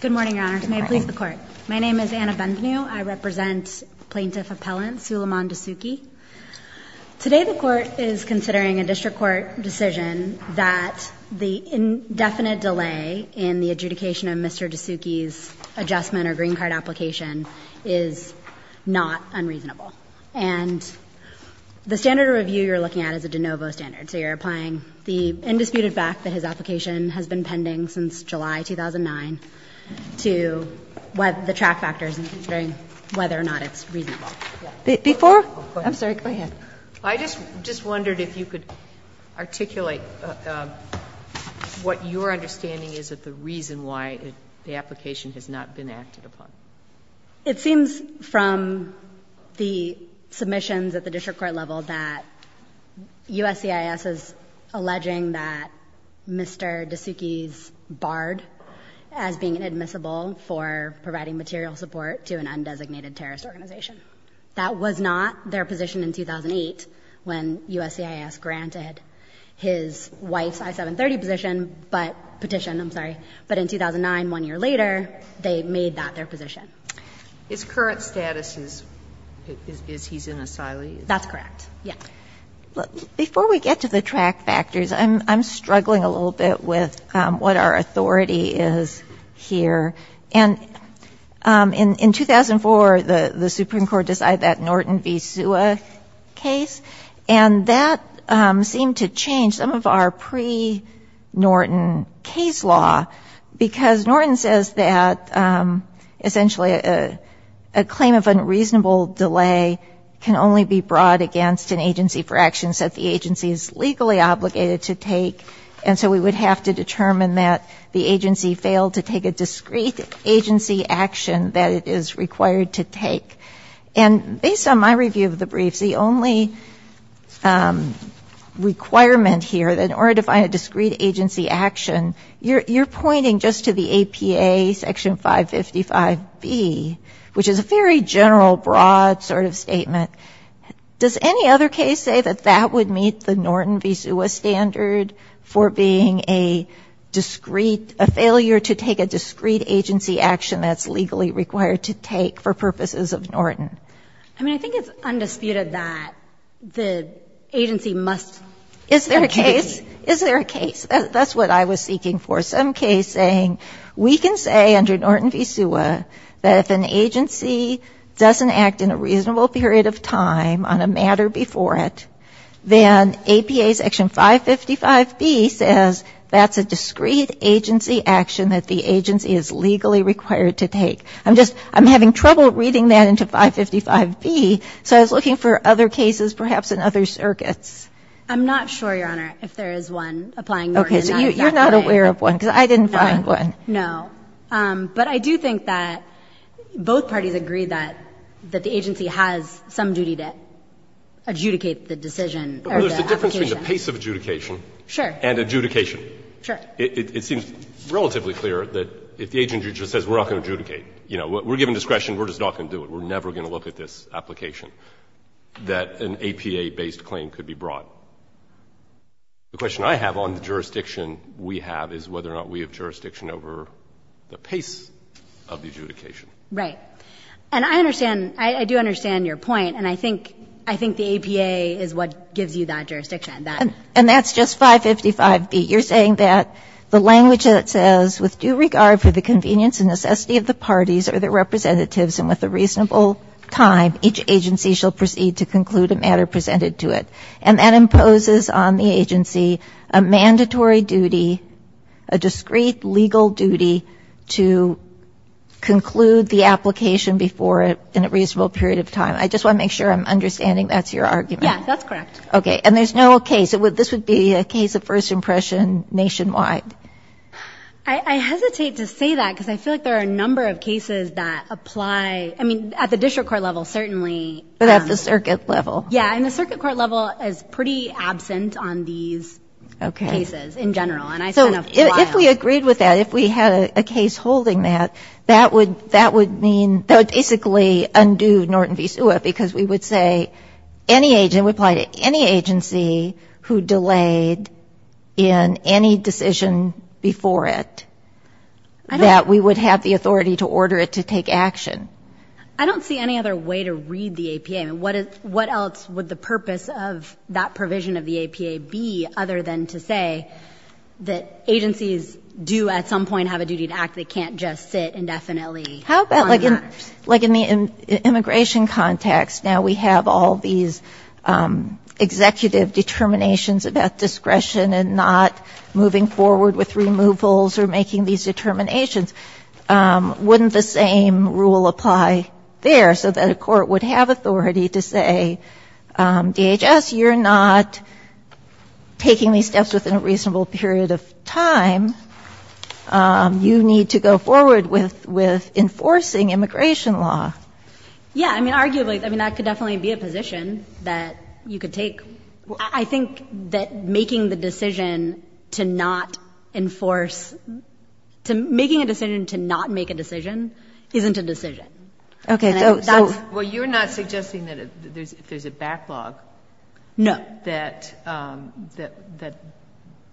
Good morning, Your Honors. May it please the Court. My name is Anna Benvenu. I represent Plaintiff Appellant Sulaiman Dosouqi. Today the Court is considering a District Court decision that the indefinite delay in the adjudication of Mr. Dosouqi's adjustment or green card application is not unreasonable. And the standard of review you're looking at is a de novo standard. So you're applying the indisputed fact that his application has been pending since July 2009 to the track factors and considering whether or not it's reasonable. Before? I'm sorry. Go ahead. I just wondered if you could articulate what your understanding is of the reason why the application has not been acted upon. It seems from the submissions at the District Court level that USCIS is alleging that Mr. Dosouqi's barred as being inadmissible for providing material support to an undesignated terrorist organization. That was not their position in 2008 when USCIS granted his wife's I-730 position, but petition, I'm sorry. But in 2009, one year later, they made that their position. His current status is he's an asylee? That's correct, yes. Before we get to the track factors, I'm struggling a little bit with what our authority is here. And in 2004, the Supreme Court decided that Norton v. Suha case, and that seemed to change some of our pre-Norton case law, because Norton says that essentially a claim of unreasonable delay can only be brought against an agency for actions that the agency is legally obligated to take. And so we would have to determine that the agency failed to take a discrete agency action that it is required to take. And based on my review of the briefs, the only requirement here that in order to find a discrete agency action, you're pointing just to the APA Section 555B, which is a very general, broad sort of statement. Does any other case say that that would meet the Norton v. Suha standard for being a discrete, a failure to take a discrete agency action that's legally required to take for purposes of Norton? I mean, I think it's undisputed that the agency must be a case. Is there a case? Is there a case? That's what I was seeking for. Some case saying we can say under Norton v. Suha that if an agency doesn't act in a reasonable period of time on a matter before it, then APA Section 555B says that's a discrete agency action that the agency is legally required to take. I'm just, I'm having trouble reading that into 555B, so I was looking for other cases perhaps in other circuits. I'm not sure, Your Honor, if there is one applying Norton. Okay. So you're not aware of one, because I didn't find one. No. But I do think that both parties agree that the agency has some duty to adjudicate the decision or the application. Well, there's a difference between the pace of adjudication and adjudication. Sure. It seems relatively clear that if the agency just says we're not going to adjudicate, you know, we're given discretion, we're just not going to do it. We're never going to look at this application that an APA-based claim could be brought. The question I have on the jurisdiction we have is whether or not we have jurisdiction over the pace of the adjudication. Right. And I understand, I do understand your point, and I think, I think the APA is what gives you that jurisdiction. And that's just 555B. You're saying that the language that it says, with due regard for the convenience and necessity of the parties or their representatives and with a reasonable time, each agency shall proceed to conclude a matter presented to it. And that imposes on the agency a mandatory duty, a discreet legal duty, to conclude the application before a reasonable period of time. I just want to make sure I'm understanding that's your argument. Yeah, that's correct. Okay. And there's no case. This would be a case of first impression nationwide. I hesitate to say that because I feel like there are a number of cases that apply, I mean, at the district court level certainly. But at the circuit level. Yeah, and the circuit court level is pretty absent on these cases in general. And I spent enough time. So if we agreed with that, if we had a case holding that, that would mean, that would basically undo Norton v. SUA because we would say any agent, we apply to any agency who delayed in any decision before it, that we would have the authority to order it to take action. I don't see any other way to read the APA. I mean, what else would the purpose of that provision of the APA be other than to say that agencies do at some point have a duty to act, they can't just sit indefinitely on that? How about like in the immigration context, now we have all these executive determinations about discretion and not moving forward with removals or making these determinations. Wouldn't the same rule apply there so that a court would have authority to say, DHS, you're not taking these steps within a reasonable period of time. You need to go forward with enforcing immigration law. Yeah. I mean, arguably, I mean, that could definitely be a position that you could take. I think that making the decision to not enforce, making a decision to not make a decision isn't a decision. Okay. Well, you're not suggesting that there's a backlog. No.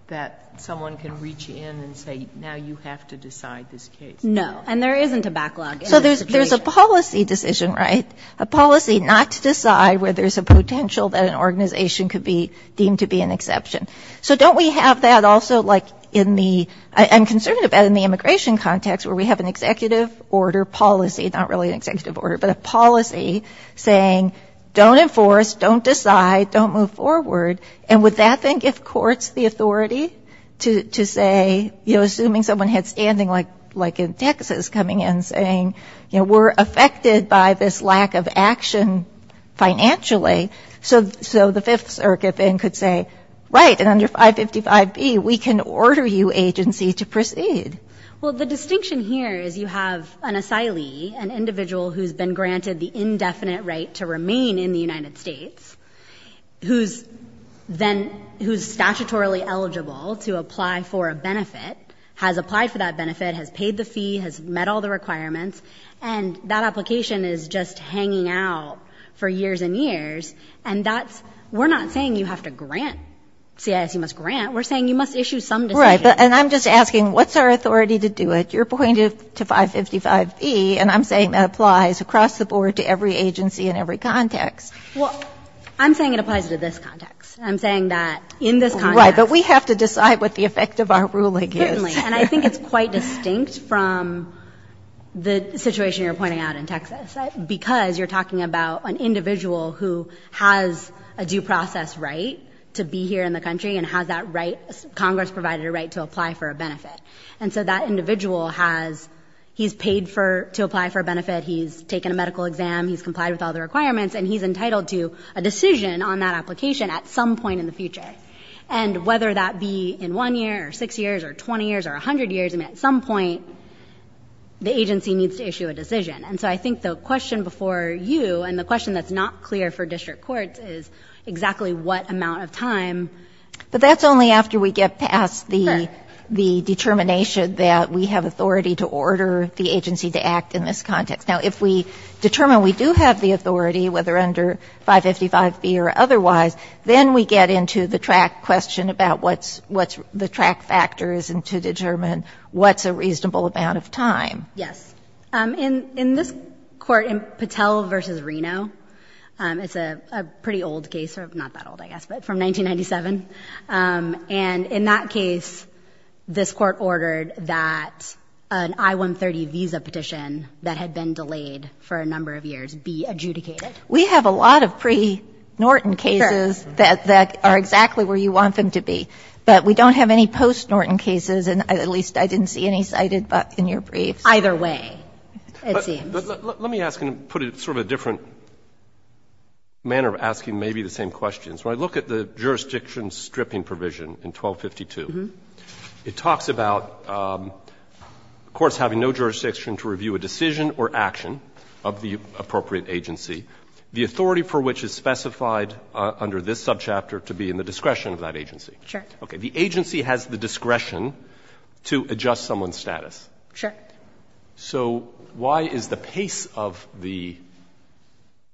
That someone can reach in and say, now you have to decide this case. No. And there isn't a backlog. So there's a policy decision, right? A policy not to decide where there's a potential that an organization could be deemed to be an exception. So don't we have that also, like, in the immigration context, where we have an executive order policy, not really an executive order, but a policy saying don't enforce, don't decide, don't move forward. And would that then give courts the authority to say, you know, assuming someone had standing like in Texas coming in saying, you know, we're affected by this lack of action financially. So the Fifth Circuit then could say, right, and under 555B we can order you, agency, to proceed. Well, the distinction here is you have an asylee, an individual who's been granted the indefinite right to remain in the United States, who's then, who's statutorily eligible to apply for a benefit, has applied for that benefit, has paid the fee, has met all the requirements, and that application is just hanging out for years and years. And that's, we're not saying you have to grant, CIS, you must grant. We're saying you must issue some decision. And I'm just asking, what's our authority to do it? You're pointing to 555E, and I'm saying that applies across the board to every agency and every context. Well, I'm saying it applies to this context. I'm saying that in this context. Right, but we have to decide what the effect of our ruling is. Certainly. And I think it's quite distinct from the situation you're pointing out in Texas, because you're talking about an individual who has a due process right to be here in the country and has that right, Congress provided a right to apply for a benefit. And so that individual has, he's paid for, to apply for a benefit. He's taken a medical exam. He's complied with all the requirements and he's entitled to a decision on that application at some point in the future. And whether that be in one year or six years or 20 years or a hundred years, and at some point the agency needs to issue a decision. And so I think the question before you and the question that's not clear for district courts is exactly what amount of time. But that's only after we get past the determination that we have authority to order the agency to act in this context. Now, if we determine we do have the authority, whether under 555B or otherwise, then we get into the track question about what's the track factors and to determine what's a reasonable amount of time. Yes. In this court, Patel v. Reno, it's a pretty old case, not that old I guess, but from 1997. And in that case, this Court ordered that an I-130 visa petition that had been delayed for a number of years be adjudicated. We have a lot of pre-Norton cases that are exactly where you want them to be. But we don't have any post-Norton cases, and at least I didn't see any cited in your briefs. Either way, it seems. Let me ask and put it in sort of a different manner of asking maybe the same questions. When I look at the jurisdiction stripping provision in 1252, it talks about courts having no jurisdiction to review a decision or action of the appropriate agency, the authority for which is specified under this subchapter to be in the discretion of that agency. Okay. The agency has the discretion to adjust someone's status. Sure. So why is the pace of the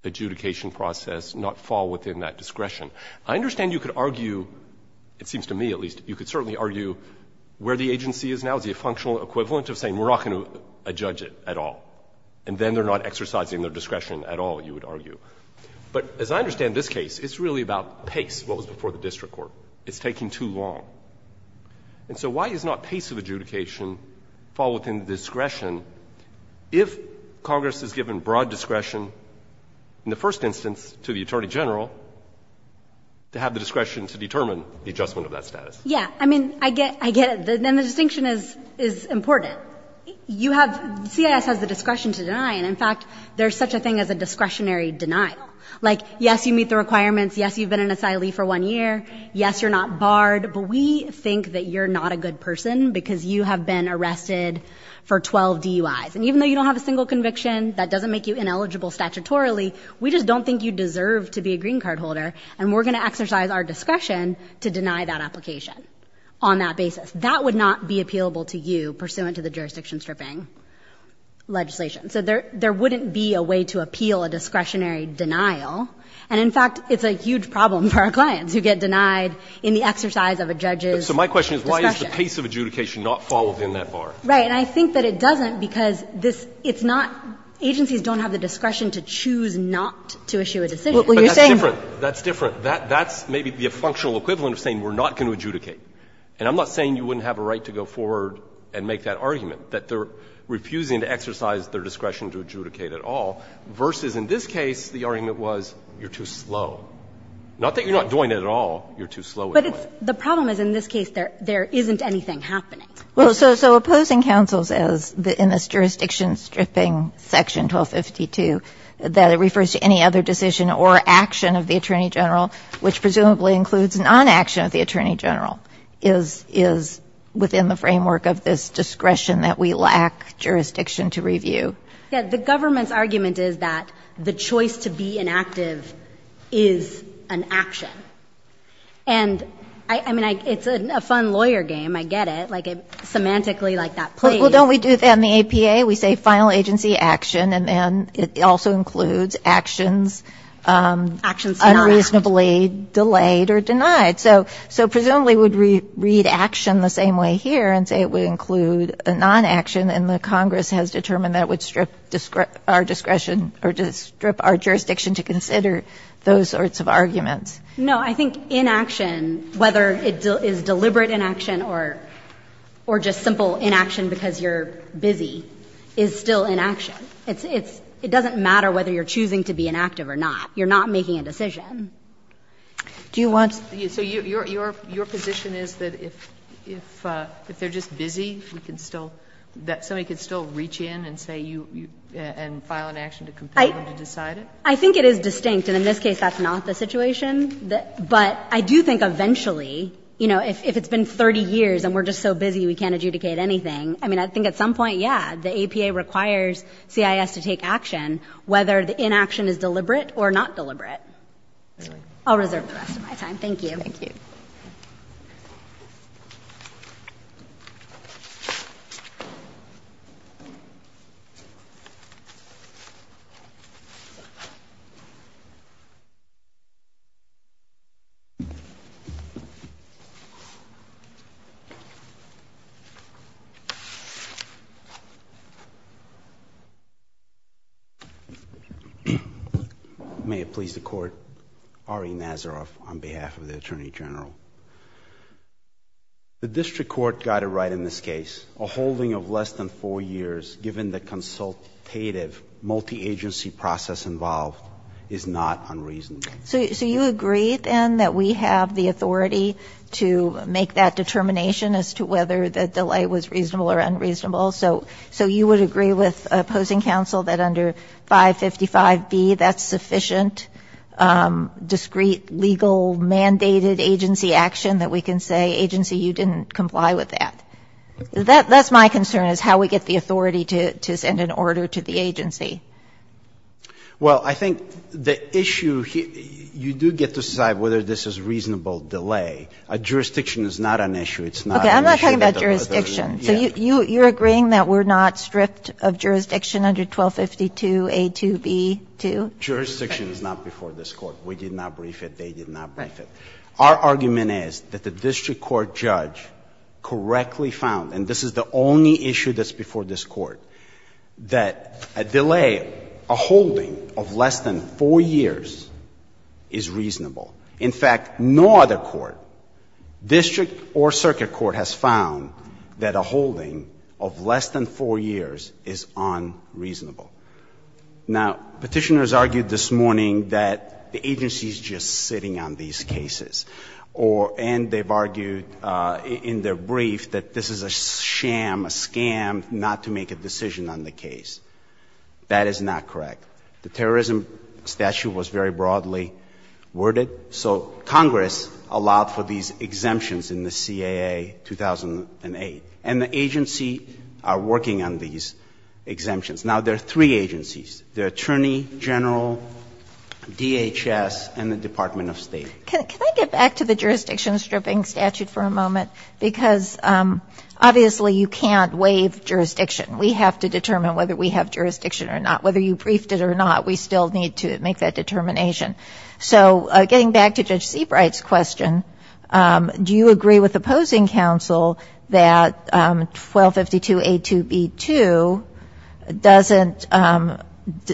adjudication process not fall within that discretion? I understand you could argue, it seems to me at least, you could certainly argue where the agency is now is the functional equivalent of saying we're not going to adjudge it at all. And then they're not exercising their discretion at all, you would argue. But as I understand this case, it's really about pace, what was before the district court. It's taking too long. And so why does not pace of adjudication fall within the discretion if Congress has given broad discretion in the first instance to the attorney general to have the discretion to determine the adjustment of that status? Yeah. I mean, I get it. Then the distinction is important. You have, CIS has the discretion to deny. And in fact, there's such a thing as a discretionary deny. Like yes, you meet the requirements. Yes, you've been an asylee for one year. Yes, you're not barred. But we think that you're not a good person because you have been arrested for 12 DUIs. And even though you don't have a single conviction, that doesn't make you ineligible statutorily. We just don't think you deserve to be a green card holder. And we're going to exercise our discretion to deny that application on that basis. That would not be appealable to you pursuant to the jurisdiction stripping legislation. So there wouldn't be a way to appeal a discretionary denial. And in fact, it's a huge problem for our clients who get denied in the exercise of a judge's discretion. So my question is, why is the pace of adjudication not followed in that bar? Right. And I think that it doesn't because this – it's not – agencies don't have the discretion to choose not to issue a decision. Well, you're saying – But that's different. That's different. That's maybe the functional equivalent of saying we're not going to adjudicate. And I'm not saying you wouldn't have a right to go forward and make that argument, that they're refusing to exercise their discretion to adjudicate at all, versus in this case the argument was you're too slow. Not that you're not doing it at all. You're too slow at doing it. But the problem is in this case there isn't anything happening. Well, so opposing counsel says in this jurisdiction stripping section 1252 that it refers to any other decision or action of the Attorney General, which presumably includes non-action of the Attorney General, is within the framework of this discretion that we lack jurisdiction to review. Yeah. The government's argument is that the choice to be inactive is an action. And, I mean, it's a fun lawyer game. I get it. Like, semantically, like that – Well, don't we do that in the APA? We say final agency action, and then it also includes actions unreasonably delayed or denied. So presumably we would read action the same way here and say it would include non-action, and the Congress has determined that it would strip our discretion or strip our jurisdiction to consider those sorts of arguments. No. I think inaction, whether it is deliberate inaction or just simple inaction because you're busy, is still inaction. It's – it doesn't matter whether you're choosing to be inactive or not. You're not making a decision. Do you want – So your position is that if they're just busy, we can still – that somebody can still reach in and say you – and file an action to compel them to decide it? I think it is distinct, and in this case that's not the situation. But I do think eventually, you know, if it's been 30 years and we're just so busy we can't adjudicate anything, I mean, I think at some point, yeah, the APA requires CIS to take action whether the inaction is deliberate or not deliberate. I'll reserve the rest of my time. Thank you. May it please the Court, Ari Nazaroff on behalf of the Attorney General. The district court got it right in this case. A holding of less than four years given the consultative multi-agency process involved is not unreasonable. So you agree, then, that we have the authority to make that determination as to whether the delay was reasonable or unreasonable? So you would agree with opposing counsel that under 555B, that's sufficient discreet, legal, mandated agency action that we can say, agency, you didn't comply with that? That's my concern, is how we get the authority to send an order to the agency. Well, I think the issue – you do get to decide whether this is a reasonable delay. A jurisdiction is not an issue. It's not an issue that others, yeah. Okay. I'm not talking about jurisdiction. So you're agreeing that we're not stripped of jurisdiction under 1252A2B2? Jurisdiction is not before this Court. We did not brief it. They did not brief it. Our argument is that the district court judge correctly found, and this is the only issue that's before this Court, that a delay, a holding of less than four years is reasonable. In fact, no other court, district or circuit court, has found that a holding of less than four years is unreasonable. Now, Petitioners argued this morning that the agency is just sitting on these cases. And they've argued in their brief that this is a sham, a scam, not to make a decision on the case. That is not correct. The terrorism statute was very broadly worded. So Congress allowed for these exemptions in the CAA 2008. And the agency are working on these exemptions. Now, there are three agencies, the Attorney General, DHS, and the Department of State. Can I get back to the jurisdiction stripping statute for a moment? Because obviously you can't waive jurisdiction. We have to determine whether we have jurisdiction or not. Whether you briefed it or not, we still need to make that determination. So getting back to Judge Seabright's question, do you agree with opposing counsel that 1252a2b2 doesn't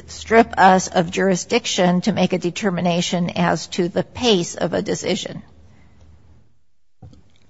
strip us of jurisdiction to make a determination as to the pace of a decision?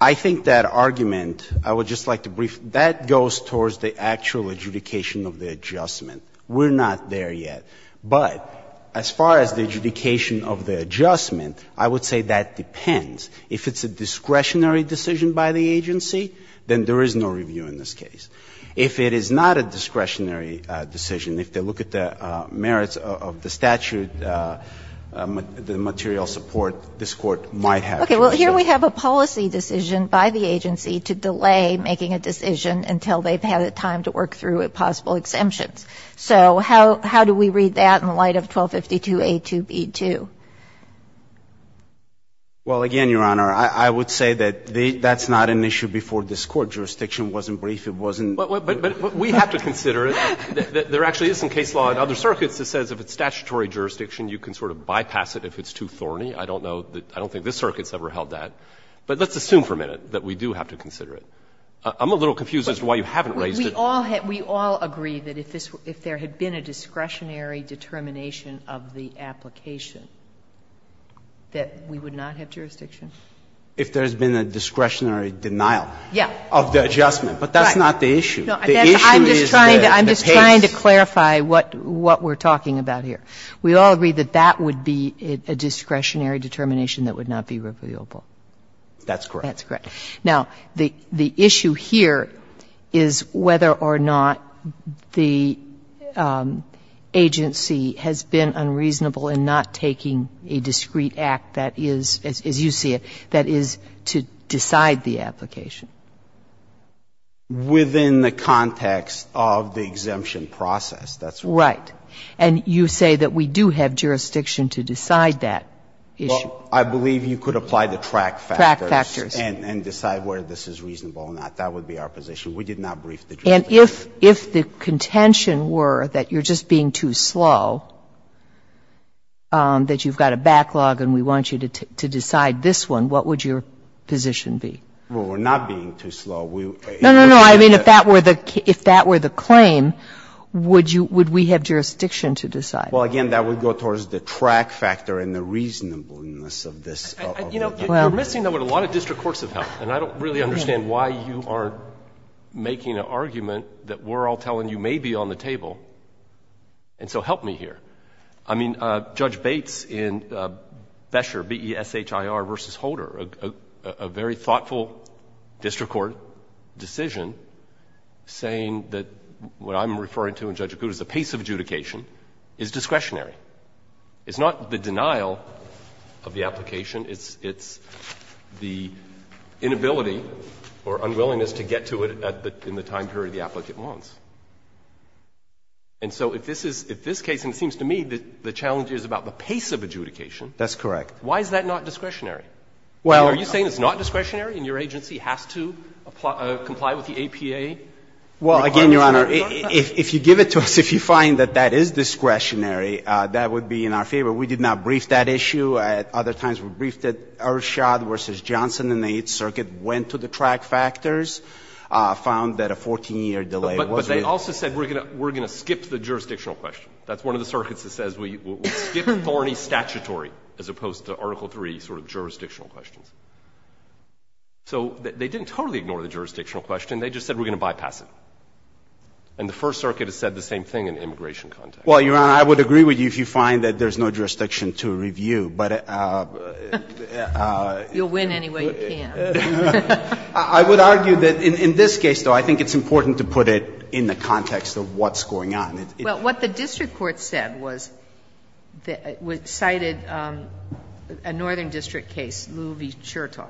I think that argument, I would just like to brief, that goes towards the actual adjudication of the adjustment. We're not there yet. But as far as the adjudication of the adjustment, I would say that depends. If it's a discretionary decision by the agency, then there is no review in this case. If it is not a discretionary decision, if they look at the merits of the statute, the material support, this Court might have jurisdiction. Okay. Well, here we have a policy decision by the agency to delay making a decision until they've had time to work through possible exemptions. So how do we read that in light of 1252a2b2? Well, again, Your Honor, I would say that that's not an issue before this Court. Jurisdiction wasn't brief. It wasn't brief. But we have to consider it. There actually is some case law in other circuits that says if it's statutory jurisdiction, you can sort of bypass it if it's too thorny. I don't know, I don't think this circuit has ever held that. But let's assume for a minute that we do have to consider it. I'm a little confused as to why you haven't raised it. We all agree that if there had been a discretionary determination of the application, that we would not have jurisdiction? If there's been a discretionary denial of the adjustment. But that's not the issue. The issue is the pace. I'm just trying to clarify what we're talking about here. We all agree that that would be a discretionary determination that would not be reviewable. That's correct. That's correct. Now, the issue here is whether or not the agency has been unreasonable in not taking a discrete act that is, as you see it, that is to decide the application. Within the context of the exemption process. That's right. And you say that we do have jurisdiction to decide that issue. Well, I believe you could apply the track factors. Track factors. And decide whether this is reasonable or not. That would be our position. We did not brief the jury. And if the contention were that you're just being too slow, that you've got a backlog and we want you to decide this one, what would your position be? Well, we're not being too slow. No, no, no. I mean, if that were the claim, would we have jurisdiction to decide? Well, again, that would go towards the track factor and the reasonableness of this. You know, you're missing, though, what a lot of district courts have helped. And I don't really understand why you aren't making an argument that we're all telling you may be on the table. And so help me here. I mean, Judge Bates in Besher, B-E-S-H-I-R versus Holder, a very thoughtful district court decision saying that what I'm referring to in Judge Acuta is the pace of adjudication is discretionary. It's not the denial of the application. It's the inability or unwillingness to get to it in the time period the applicant wants. And so if this is, if this case, and it seems to me the challenge is about the pace of adjudication. That's correct. Why is that not discretionary? Well, are you saying it's not discretionary and your agency has to comply with the APA requirements? Well, again, Your Honor, if you give it to us, if you find that that is discretionary, that would be in our favor. We did not brief that issue. Other times we briefed it. Ershad v. Johnson in the Eighth Circuit went to the track factors, found that a 14-year delay was real. But they also said we're going to skip the jurisdictional question. That's one of the circuits that says we'll skip thorny statutory as opposed to Article III sort of jurisdictional questions. So they didn't totally ignore the jurisdictional question. They just said we're going to bypass it. And the First Circuit has said the same thing in immigration context. Well, Your Honor, I would agree with you if you find that there's no jurisdiction to review, but it's not discretionary. You'll win anyway you can. I would argue that in this case, though, I think it's important to put it in the context of what's going on. Well, what the district court said was that it cited a northern district case, Lou v. Chertoff,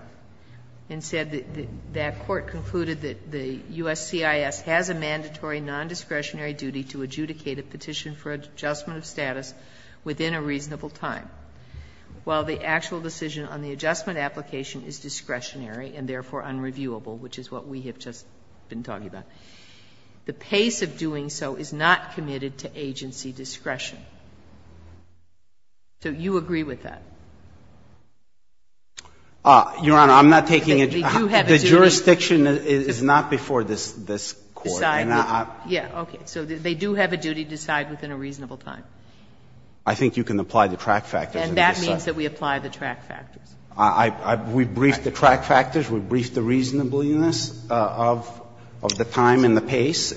and said that that court concluded that the U.S. CIS has a mandatory non-discretionary duty to adjudicate a petition for adjustment of status within a reasonable time. While the actual decision on the adjustment application is discretionary and therefore unreviewable, which is what we have just been talking about, the pace of doing so is not committed to agency discretion. So you agree with that? Your Honor, I'm not taking a judge. They do have a duty. The jurisdiction is not before this Court. Yeah. Okay. So they do have a duty to decide within a reasonable time. I think you can apply the track factors. And that means that we apply the track factors. We briefed the track factors. We briefed the reasonableness of the time and the pace.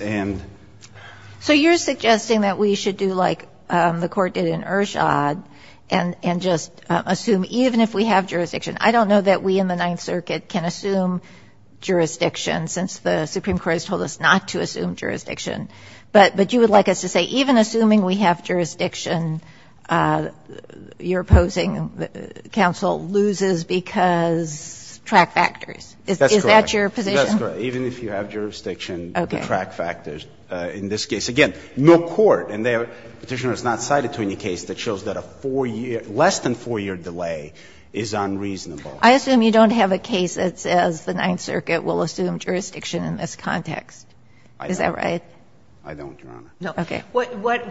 So you're suggesting that we should do like the Court did in Ershad and just assume even if we have jurisdiction. I don't know that we in the Ninth Circuit can assume jurisdiction, since the Supreme Court has told us not to assume jurisdiction. But you would like us to say even assuming we have jurisdiction, your opposing counsel loses because track factors. Is that your position? That's correct. Even if you have jurisdiction, the track factors. In this case, again, no court and the Petitioner has not cited to any case that shows that a four-year, less than four-year delay is unreasonable. I assume you don't have a case that says the Ninth Circuit will assume jurisdiction in this context. I don't. I don't, Your Honor. Okay.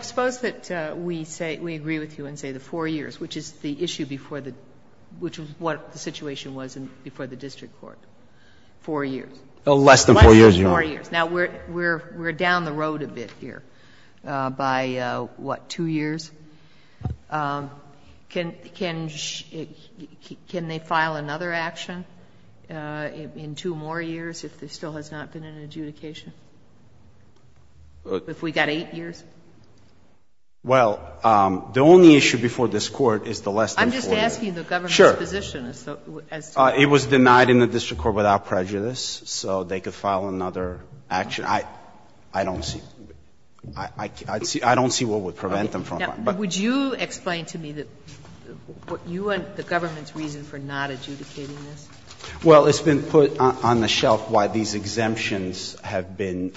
Suppose that we say, we agree with you and say the four years, which is the issue before the, which is what the situation was before the district court. Four years. Less than four years, Your Honor. Less than four years. Now, we're down the road a bit here by, what, two years? Can they file another action in two more years if there still has not been an adjudication? If we've got eight years? Well, the only issue before this Court is the less than four years. I'm just asking the government's position. Sure. It was denied in the district court without prejudice, so they could file another action. I don't see, I don't see what would prevent them from filing. Would you explain to me the government's reason for not adjudicating this? Well, it's been put on the shelf why these exemptions have been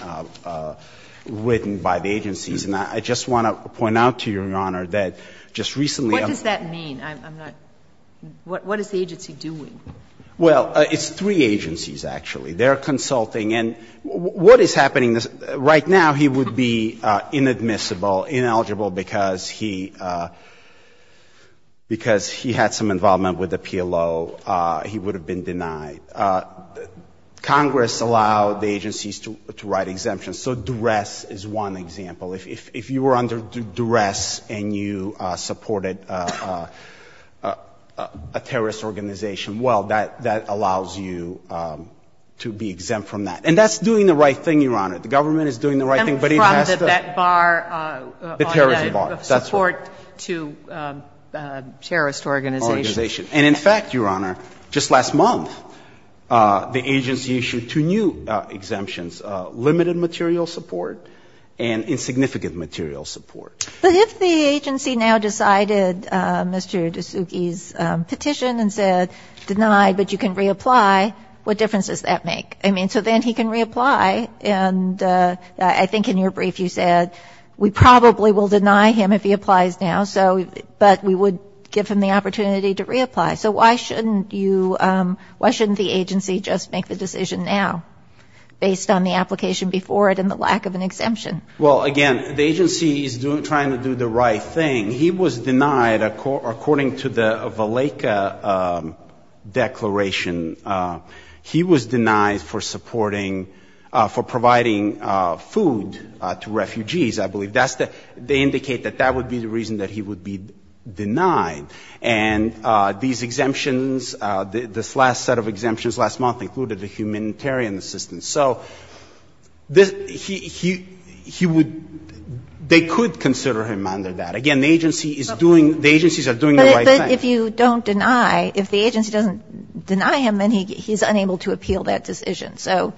written by the agencies. And I just want to point out to you, Your Honor, that just recently I'm. What does that mean? I'm not, what is the agency doing? Well, it's three agencies, actually. They're consulting. And what is happening, right now he would be inadmissible, ineligible, because he, because he had some involvement with the PLO. He would have been denied. Congress allowed the agencies to write exemptions. So duress is one example. If you were under duress and you supported a terrorist organization, well, that allows you to be exempt from that. And that's doing the right thing, Your Honor. The government is doing the right thing, but it has to. Exempt from the BETT bar. The terrorism bar, that's right. Support to terrorist organizations. Organizations. And in fact, Your Honor, just last month, the agency issued two new exemptions, limited material support and insignificant material support. But if the agency now decided, Mr. DeSuke's petition and said, deny, but you can reapply, what difference does that make? I mean, so then he can reapply. And I think in your brief you said, we probably will deny him if he applies now, but we would give him the opportunity to reapply. So why shouldn't you, why shouldn't the agency just make the decision now, based on the application before it and the lack of an exemption? Well, again, the agency is trying to do the right thing. He was denied, according to the Valleca Declaration, he was denied for supporting for providing food to refugees, I believe. They indicate that that would be the reason that he would be denied. And these exemptions, this last set of exemptions last month included a humanitarian assistance. So he would, they could consider him under that. Again, the agency is doing, the agencies are doing the right thing. But if you don't deny, if the agency doesn't deny him, then he's unable to appeal that decision. So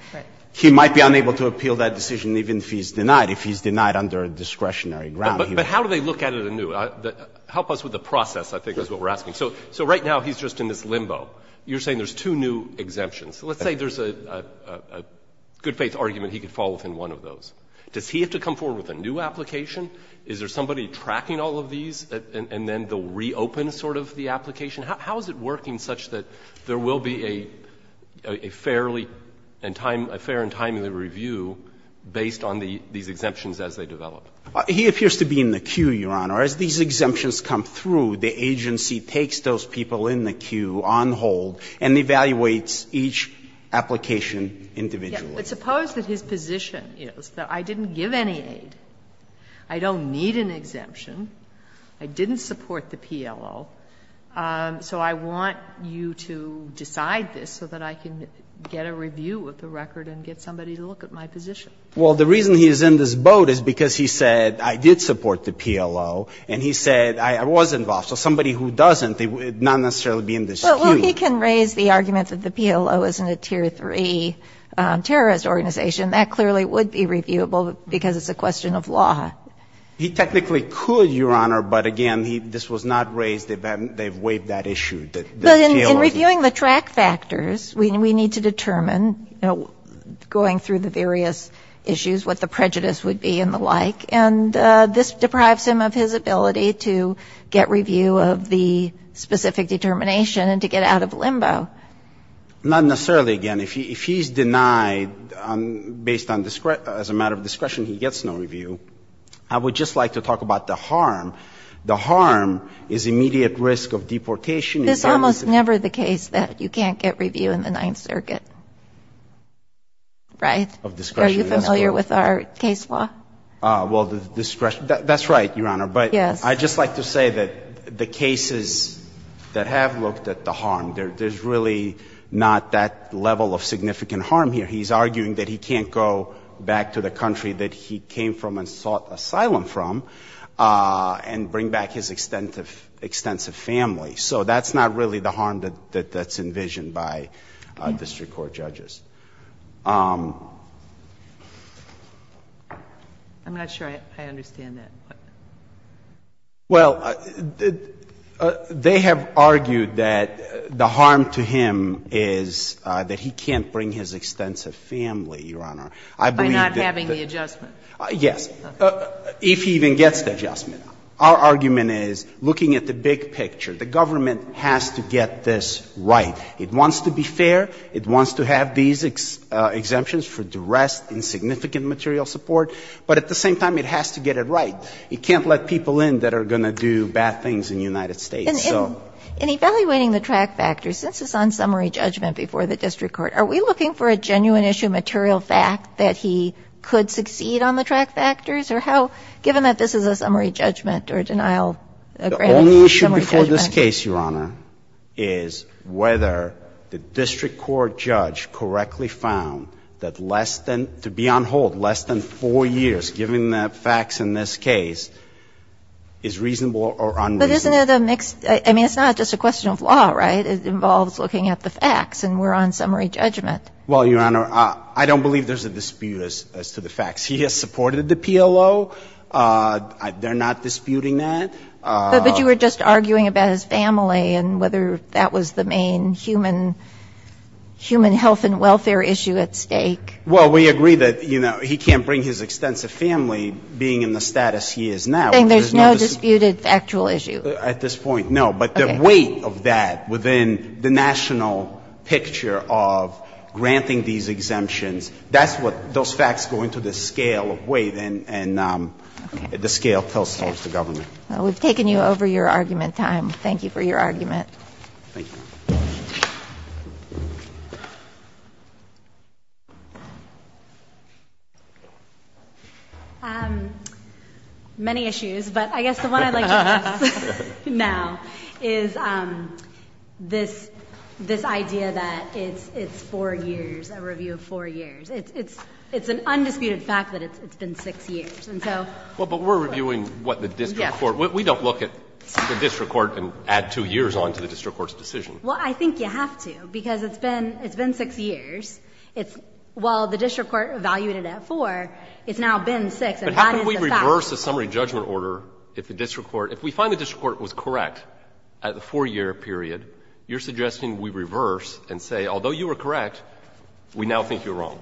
he might be unable to appeal that decision even if he's denied, if he's denied under a discretionary ground here. But how do they look at it anew? Help us with the process, I think is what we're asking. So right now he's just in this limbo. You're saying there's two new exemptions. Let's say there's a good-faith argument he could fall within one of those. Does he have to come forward with a new application? Is there somebody tracking all of these and then they'll reopen sort of the application? How is it working such that there will be a fairly and time, a fair and timely review based on these exemptions as they develop? He appears to be in the queue, Your Honor. As these exemptions come through, the agency takes those people in the queue, on hold, and evaluates each application individually. But suppose that his position is that I didn't give any aid, I don't need an exemption, I didn't support the PLO, so I want you to decide this so that I can get a review of the record and get somebody to look at my position. Well, the reason he's in this boat is because he said, I did support the PLO, and he said, I was involved. So somebody who doesn't, they would not necessarily be in this queue. Well, he can raise the argument that the PLO isn't a Tier 3 terrorist organization. That clearly would be reviewable because it's a question of law. He technically could, Your Honor, but again, this was not raised. They've waived that issue. But in reviewing the track factors, we need to determine, you know, going through the various issues, what the prejudice would be and the like, and this deprives him of his ability to get review of the specific determination and to get out of limbo. Not necessarily, again. If he's denied based on discretion, as a matter of discretion, he gets no review. I would just like to talk about the harm. The harm is immediate risk of deportation. It's almost never the case that you can't get review in the Ninth Circuit, right? Of discretion. Are you familiar with our case law? Well, the discretion. That's right, Your Honor. Yes. But I'd just like to say that the cases that have looked at the harm, there's really not that level of significant harm here. He's arguing that he can't go back to the country that he came from and sought and bring back his extensive family. So that's not really the harm that's envisioned by district court judges. I'm not sure I understand that. Well, they have argued that the harm to him is that he can't bring his extensive family, Your Honor. By not having the adjustment. Yes. If he even gets the adjustment. Our argument is, looking at the big picture, the government has to get this right. It wants to be fair. It wants to have these exemptions for duress and significant material support. But at the same time, it has to get it right. It can't let people in that are going to do bad things in the United States. So. In evaluating the track factor, since it's on summary judgment before the district court, are we looking for a genuine issue material fact that he could succeed on the track factors? Or how, given that this is a summary judgment or denial. The only issue before this case, Your Honor, is whether the district court judge correctly found that less than, to be on hold less than 4 years, given the facts in this case, is reasonable or unreasonable. But isn't it a mixed, I mean, it's not just a question of law, right? It involves looking at the facts. And we're on summary judgment. Well, Your Honor, I don't believe there's a dispute as to the facts. He has supported the PLO. They're not disputing that. But you were just arguing about his family and whether that was the main human health and welfare issue at stake. Well, we agree that, you know, he can't bring his extensive family, being in the status he is now. There's no disputed factual issue. At this point, no. Okay. But the weight of that within the national picture of granting these exemptions, that's what those facts go into the scale of weight and the scale tells us the government. Okay. Well, we've taken you over your argument time. Thank you for your argument. Thank you. Many issues. But I guess the one I'd like to address now is this idea that it's four years, a review of four years. It's an undisputed fact that it's been six years. Well, but we're reviewing what the district court, we don't look at the district court's decision. Well, I think you have to, because it's been, it's been six years. It's, well, the district court evaluated it at four. It's now been six, and that is a fact. But how can we reverse the summary judgment order if the district court, if we find the district court was correct at the four-year period, you're suggesting we reverse and say, although you were correct, we now think you're wrong.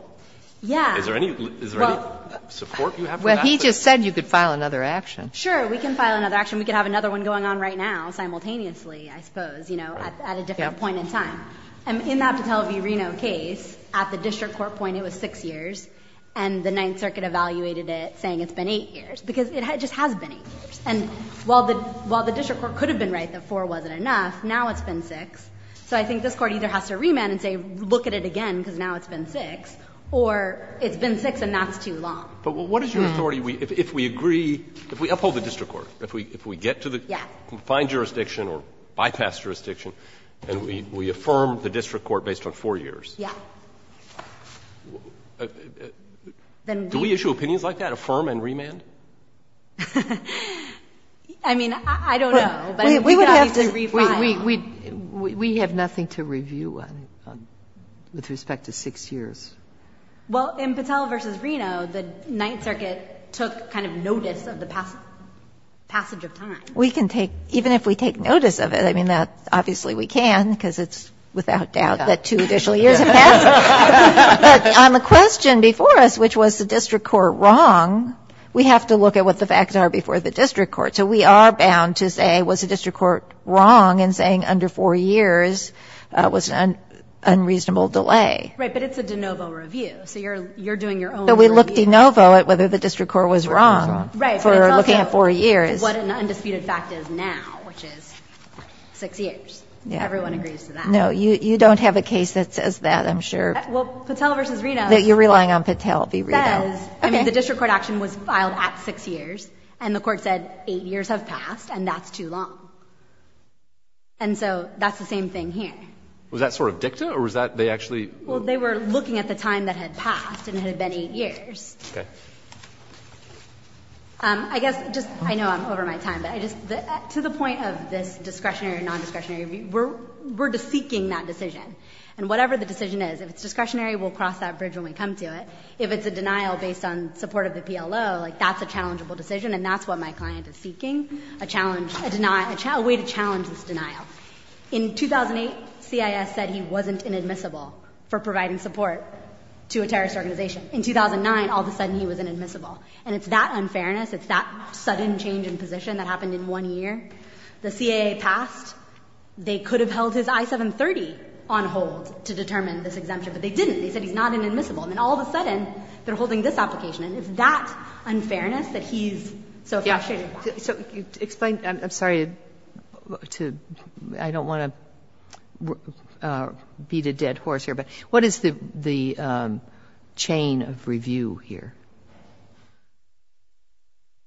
Yeah. Is there any, is there any support you have for that? Well, he just said you could file another action. Sure. We can file another action. We could have another one going on right now simultaneously, I suppose, you know, at a different point in time. And in that Votel v. Reno case, at the district court point, it was six years, and the Ninth Circuit evaluated it saying it's been eight years, because it just has been eight years. And while the district court could have been right that four wasn't enough, now it's been six. So I think this court either has to remand and say, look at it again, because now it's been six, or it's been six and that's too long. But what is your authority if we agree, if we uphold the district court, if we get to the confined jurisdiction or bypass jurisdiction and we affirm the district court based on four years? Yeah. Do we issue opinions like that, affirm and remand? I mean, I don't know. But we would have to refine. We have nothing to review with respect to six years. Well, in Votel v. Reno, the Ninth Circuit took kind of notice of the passage of time. We can take, even if we take notice of it, I mean, obviously we can, because it's without doubt that two additional years have passed. But on the question before us, which was the district court wrong, we have to look at what the facts are before the district court. So we are bound to say, was the district court wrong in saying under four years was an unreasonable delay? Right. But it's a de novo review. So you're doing your own review. But we look de novo at whether the district court was wrong for looking at four years. Right. But it's also what an undisputed fact is now, which is six years. Everyone agrees to that. No. You don't have a case that says that, I'm sure. Well, Votel v. Reno. You're relying on Votel v. Reno. The district court action was filed at six years and the court said eight years have passed and that's too long. And so that's the same thing here. Was that sort of dicta or was that they actually? Well, they were looking at the time that had passed and it had been eight years. Okay. I guess just, I know I'm over my time, but to the point of this discretionary or nondiscretionary review, we're seeking that decision. And whatever the decision is, if it's discretionary, we'll cross that bridge when we come to it. If it's a denial based on support of the PLO, like that's a challengeable decision and that's what my client is seeking, a challenge, a way to challenge this denial. In 2008, CIS said he wasn't inadmissible for providing support to a terrorist organization. In 2009, all of a sudden, he was inadmissible. And it's that unfairness, it's that sudden change in position that happened in one year. The CAA passed. They could have held his I-730 on hold to determine this exemption, but they didn't. They said he's not inadmissible. And then all of a sudden, they're holding this application. And it's that unfairness that he's so frustrated about. So explain, I'm sorry to, I don't want to beat a dead horse here, but what is the chain of review here?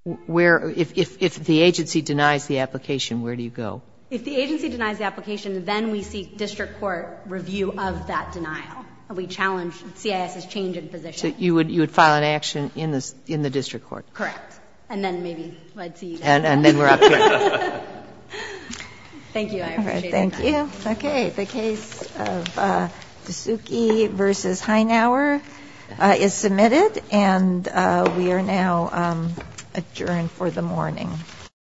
Where, if the agency denies the application, where do you go? If the agency denies the application, then we seek district court review of that denial. We challenge CIS's change in position. So you would file an action in the district court? Correct. And then maybe I'd see you guys. And then we're up to it. Thank you. I appreciate it. All right. Thank you. Okay. The case of Tasuki v. Heinauer is submitted. And we are now adjourned for the morning.